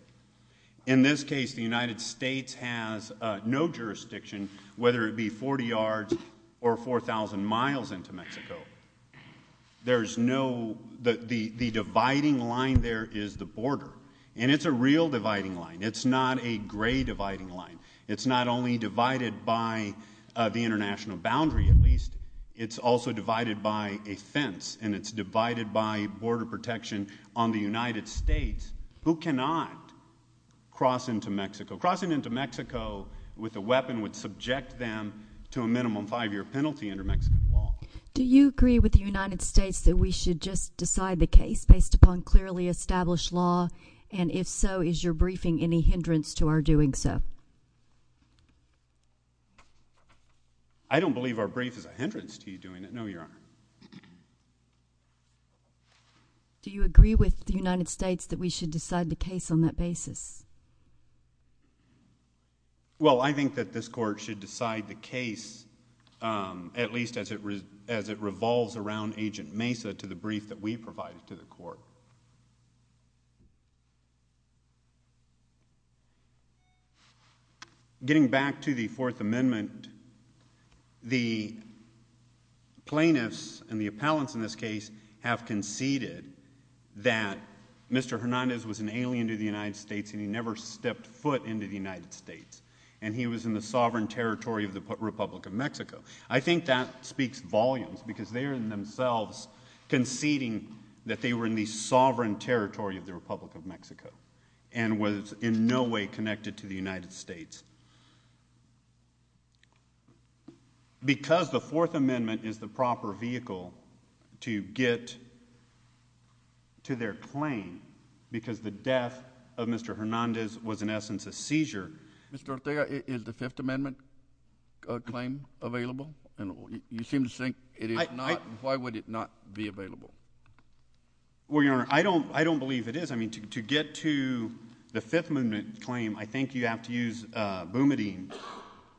In this case, the United States has no jurisdiction, whether it be 40 yards or 4,000 miles into Mexico. There is no—the dividing line there is the border, and it's a real dividing line. It's not a gray dividing line. It's not only divided by the international boundary, at least. It's also divided by a fence, and it's divided by border protection on the United States, who cannot cross into Mexico. Crossing into Mexico with a weapon would subject them to a minimum five-year penalty under Mexican law. Do you agree with the United States that we should just decide the case based upon clearly established law? And if so, is your briefing any hindrance to our doing so? I don't believe our brief is a hindrance to you doing it, no, Your Honor. Do you agree with the United States that we should decide the case on that basis? Well, I think that this Court should decide the case, at least as it revolves around Agent Mesa, to the brief that we provided to the Court. Getting back to the Fourth Amendment, the plaintiffs and the appellants in this case have conceded that Mr. Hernandez was an alien to the United States, and he never stepped foot into the United States, and he was in the sovereign territory of the Republic of Mexico. I think that speaks volumes, because they are, in themselves, conceding that they were in the sovereign territory of the Republic of Mexico and was in no way connected to the United States. Because the Fourth Amendment is the proper vehicle to get to their claim, because the death of Mr. Hernandez was, in essence, a seizure, Mr. Ortega, is the Fifth Amendment claim available? You seem to think it is not. Why would it not be available? Well, Your Honor, I don't believe it is. I mean, to get to the Fifth Amendment claim, I think you have to use Boumediene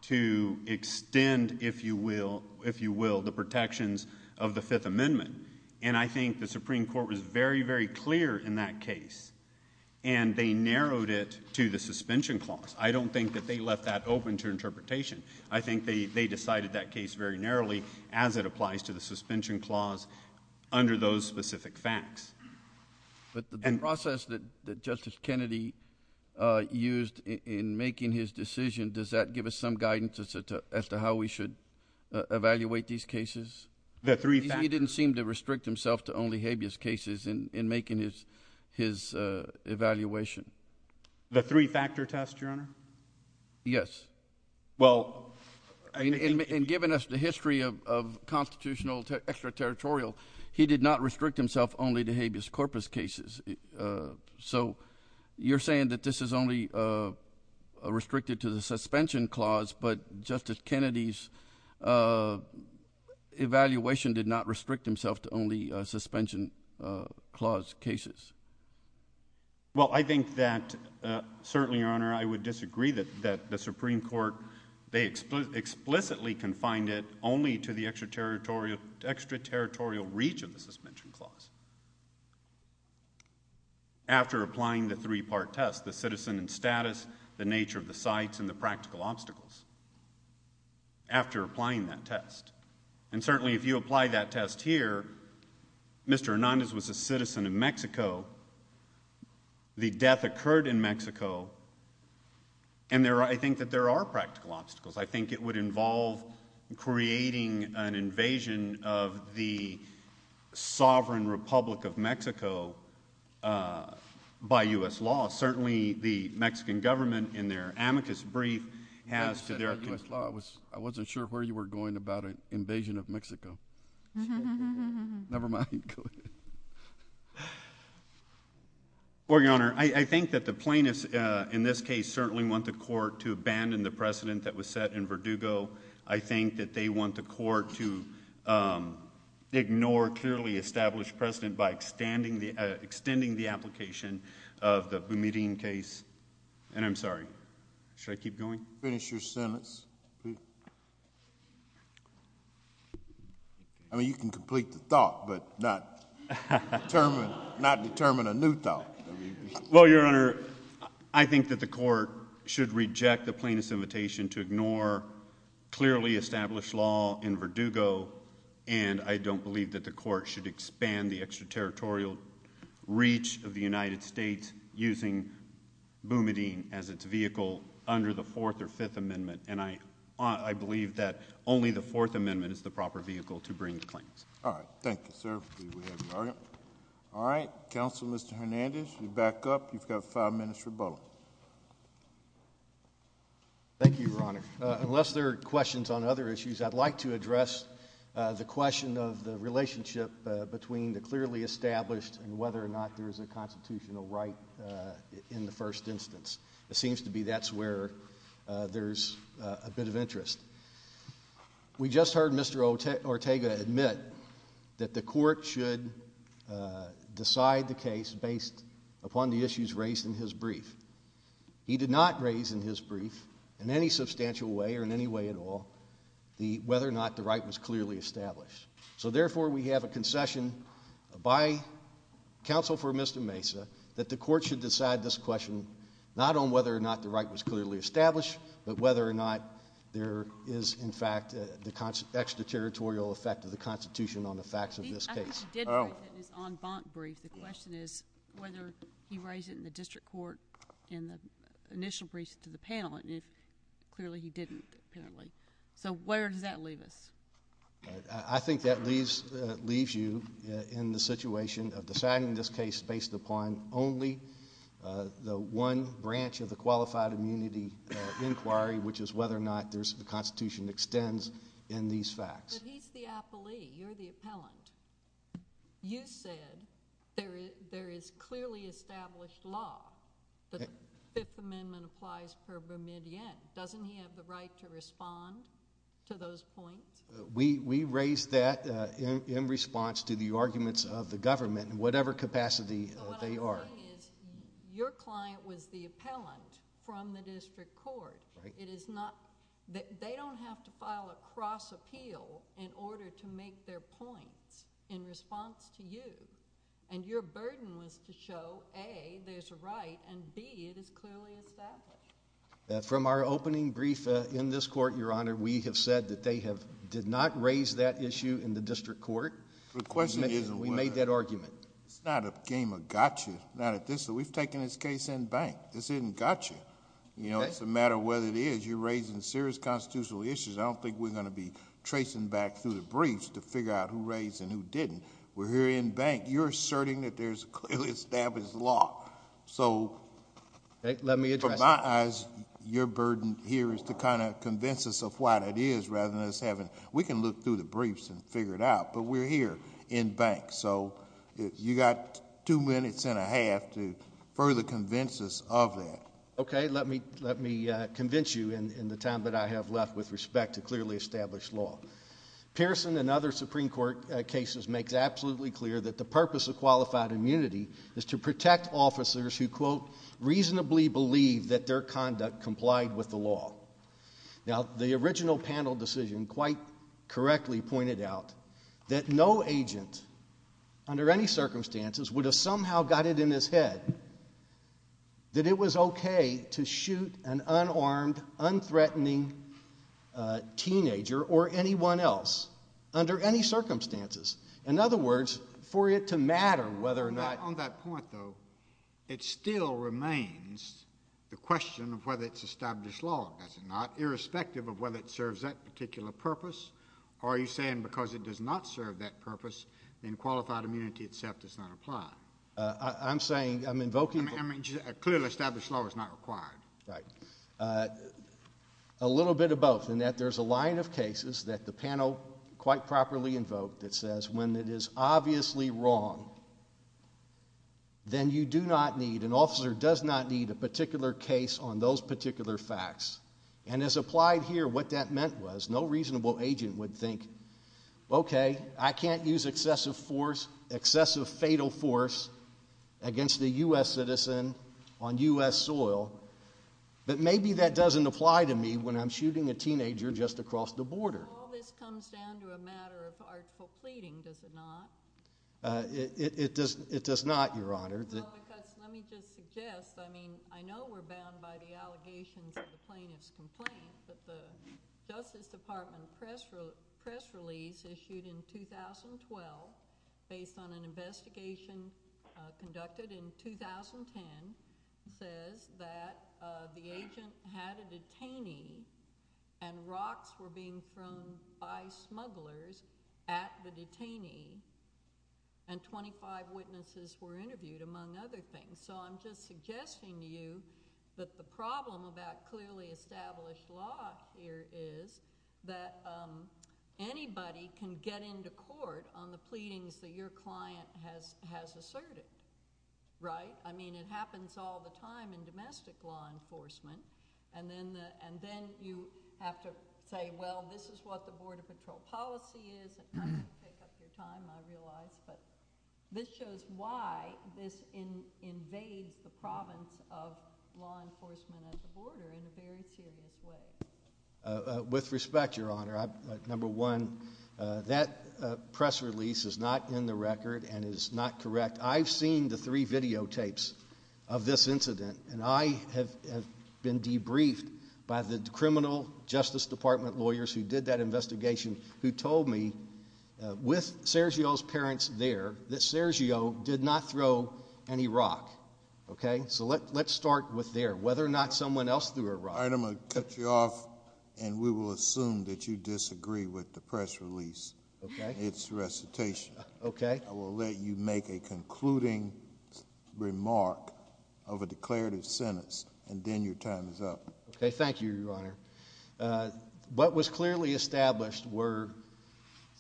to extend, if you will, the protections of the Fifth Amendment, and I think the Supreme Court was very, very clear in that case, and they narrowed it to the suspension clause. I don't think that they left that open to interpretation. I think they decided that case very narrowly, as it applies to the suspension clause under those specific facts. But the process that Justice Kennedy used in making his decision, does that give us some guidance as to how we should evaluate these cases? He didn't seem to restrict himself to only habeas cases in making his evaluation. The three-factor test, Your Honor? Yes. And given us the history of constitutional extraterritorial, he did not restrict himself only to habeas corpus cases. So you're saying that this is only restricted to the suspension clause, but Justice Kennedy's evaluation did not restrict himself to only suspension clause cases. Well, I think that certainly, Your Honor, I would disagree that the Supreme Court, they explicitly confined it only to the extraterritorial reach of the suspension clause. After applying the three-part test, the citizen and status, the nature of the sites, and the practical obstacles, after applying that test. And certainly if you apply that test here, Mr. Hernandez was a citizen of Mexico. The death occurred in Mexico. And I think that there are practical obstacles. I think it would involve creating an invasion of the sovereign Republic of Mexico by U.S. law. Certainly the Mexican government in their amicus brief has to their control. I wasn't sure where you were going about an invasion of Mexico. Never mind. Well, Your Honor, I think that the plaintiffs in this case certainly want the court to abandon the precedent that was set in Verdugo. I think that they want the court to ignore clearly established precedent by extending the application of the Bumerine case. And I'm sorry. Should I keep going? Finish your sentence. I mean, you can complete the thought, but not determine a new thought. Well, Your Honor, I think that the court should reject the plaintiff's invitation to ignore clearly established law in Verdugo, and I don't believe that the court should expand the extraterritorial reach of the United States using Bumerine as its vehicle under the Fourth or Fifth Amendment. And I believe that only the Fourth Amendment is the proper vehicle to bring the claims. All right. Thank you, sir. All right. Counsel, Mr. Hernandez, you back up. You've got five minutes rebuttal. Thank you, Your Honor. Unless there are questions on other issues, I'd like to address the question of the relationship between the clearly established and whether or not there is a constitutional right in the first instance. It seems to be that's where there's a bit of interest. We just heard Mr. Ortega admit that the court should decide the case based upon the issues raised in his brief. He did not raise in his brief in any substantial way or in any way at all whether or not the right was clearly established. So therefore, we have a concession by counsel for Mr. Mesa that the court should decide this question not on whether or not the right was clearly established, but whether or not there is, in fact, the extraterritorial effect of the Constitution on the facts of this case. I think he did raise it in his en banc brief. The question is whether he raised it in the district court in the initial brief to the panel, and clearly he didn't, apparently. So where does that leave us? I think that leaves you in the situation of deciding this case based upon only the one branch of the qualified immunity inquiry, which is whether or not the Constitution extends in these facts. But he's the appellee. You're the appellant. You said there is clearly established law that the Fifth Amendment applies per vermillion. Doesn't he have the right to respond to those points? We raised that in response to the arguments of the government in whatever capacity they are. What I'm saying is your client was the appellant from the district court. They don't have to file a cross appeal in order to make their points in response to you, and your burden was to show, A, there's a right, and, B, it is clearly established. From our opening brief in this court, Your Honor, we have said that they did not raise that issue in the district court. The question is... We made that argument. It's not a game of gotcha. We've taken this case in bank. This isn't gotcha. It doesn't matter what it is. You're raising serious constitutional issues. I don't think we're going to be tracing back through the briefs to figure out who raised and who didn't. We're here in bank. You're asserting that there's clearly established law. Let me address that. From my eyes, your burden here is to convince us of what it is rather than us having... We can look through the briefs and figure it out, but we're here in bank. You've got two minutes and a half to further convince us of that. Okay. Let me convince you in the time that I have left with respect to clearly established law. Pearson and other Supreme Court cases makes absolutely clear that the purpose of qualified immunity is to protect officers who, quote, reasonably believe that their conduct complied with the law. Now, the original panel decision quite correctly pointed out that no agent under any circumstances would have somehow got it in his head that it was okay to shoot an unarmed, unthreatening teenager or anyone else under any circumstances. In other words, for it to matter whether or not... On that point, though, it still remains the question of whether it's established law, is it not? Irrespective of whether it serves that particular purpose or are you saying because it does not serve that purpose, then qualified immunity itself does not apply? I'm saying... I'm invoking... I mean, clearly established law is not required. Right. A little bit of both, in that there's a line of cases that the panel quite properly invoked that says when it is obviously wrong, then you do not need... an officer does not need a particular case on those particular facts. And as applied here, what that meant was no reasonable agent would think, okay, I can't use excessive force, excessive fatal force against a U.S. citizen on U.S. soil, but maybe that doesn't apply to me when I'm shooting a teenager just across the border. Well, all this comes down to a matter of article pleading, does it not? It does not, Your Honor. Well, because let me just suggest, I mean, I know we're bound by the allegations of the plaintiff's complaint, but the Justice Department press release issued in 2012 based on an investigation conducted in 2010 says that the agent had a detainee and rocks were being thrown by smugglers at the detainee and twenty-five witnesses were interviewed, among other things. So I'm just suggesting to you that the problem about clearly established law here is that anybody can get into court on the pleadings that your client has asserted, right? I mean, it happens all the time in domestic law enforcement and then you have to say, well, this is what the Border Patrol policy is and I'm going to take up your time, I realize, but this shows why this invades the province of law enforcement at the border in a very fearless way. With respect, Your Honor, number one, that press release is not in the record and is not correct. I've seen the three videotapes of this incident and I have been debriefed by the criminal justice department lawyers who did that investigation who told me, with Sergio's parents there, that Sergio did not throw any rock. So let's start with there, whether or not someone else threw a rock. All right, I'm going to cut you off and we will assume that you disagree with the press release and its recitation. Okay. I will let you make a concluding remark of a declarative sentence and then your time is up. Okay, thank you, Your Honor. What was clearly established were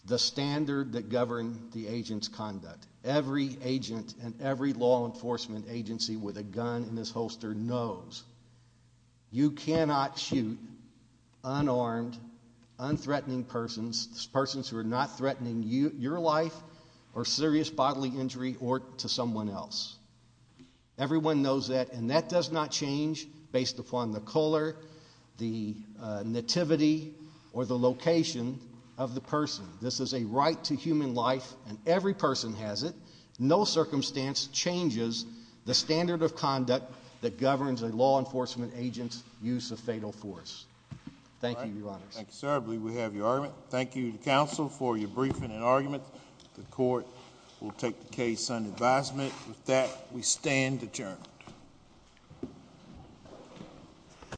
the standard that governed the agent's conduct. Every agent and every law enforcement agency with a gun in its holster knows you cannot shoot unarmed, unthreatening persons, persons who are not threatening your life or serious bodily injury or to someone else. Everyone knows that, and that does not change based upon the color, the nativity, or the location of the person. This is a right to human life and every person has it. No circumstance changes the standard of conduct that governs a law enforcement agent's use of fatal force. Thank you, Your Honor. Thank you, sir. I believe we have your argument. Thank you to counsel for your briefing and argument. The court will take the case under advisement. With that, we stand adjourned.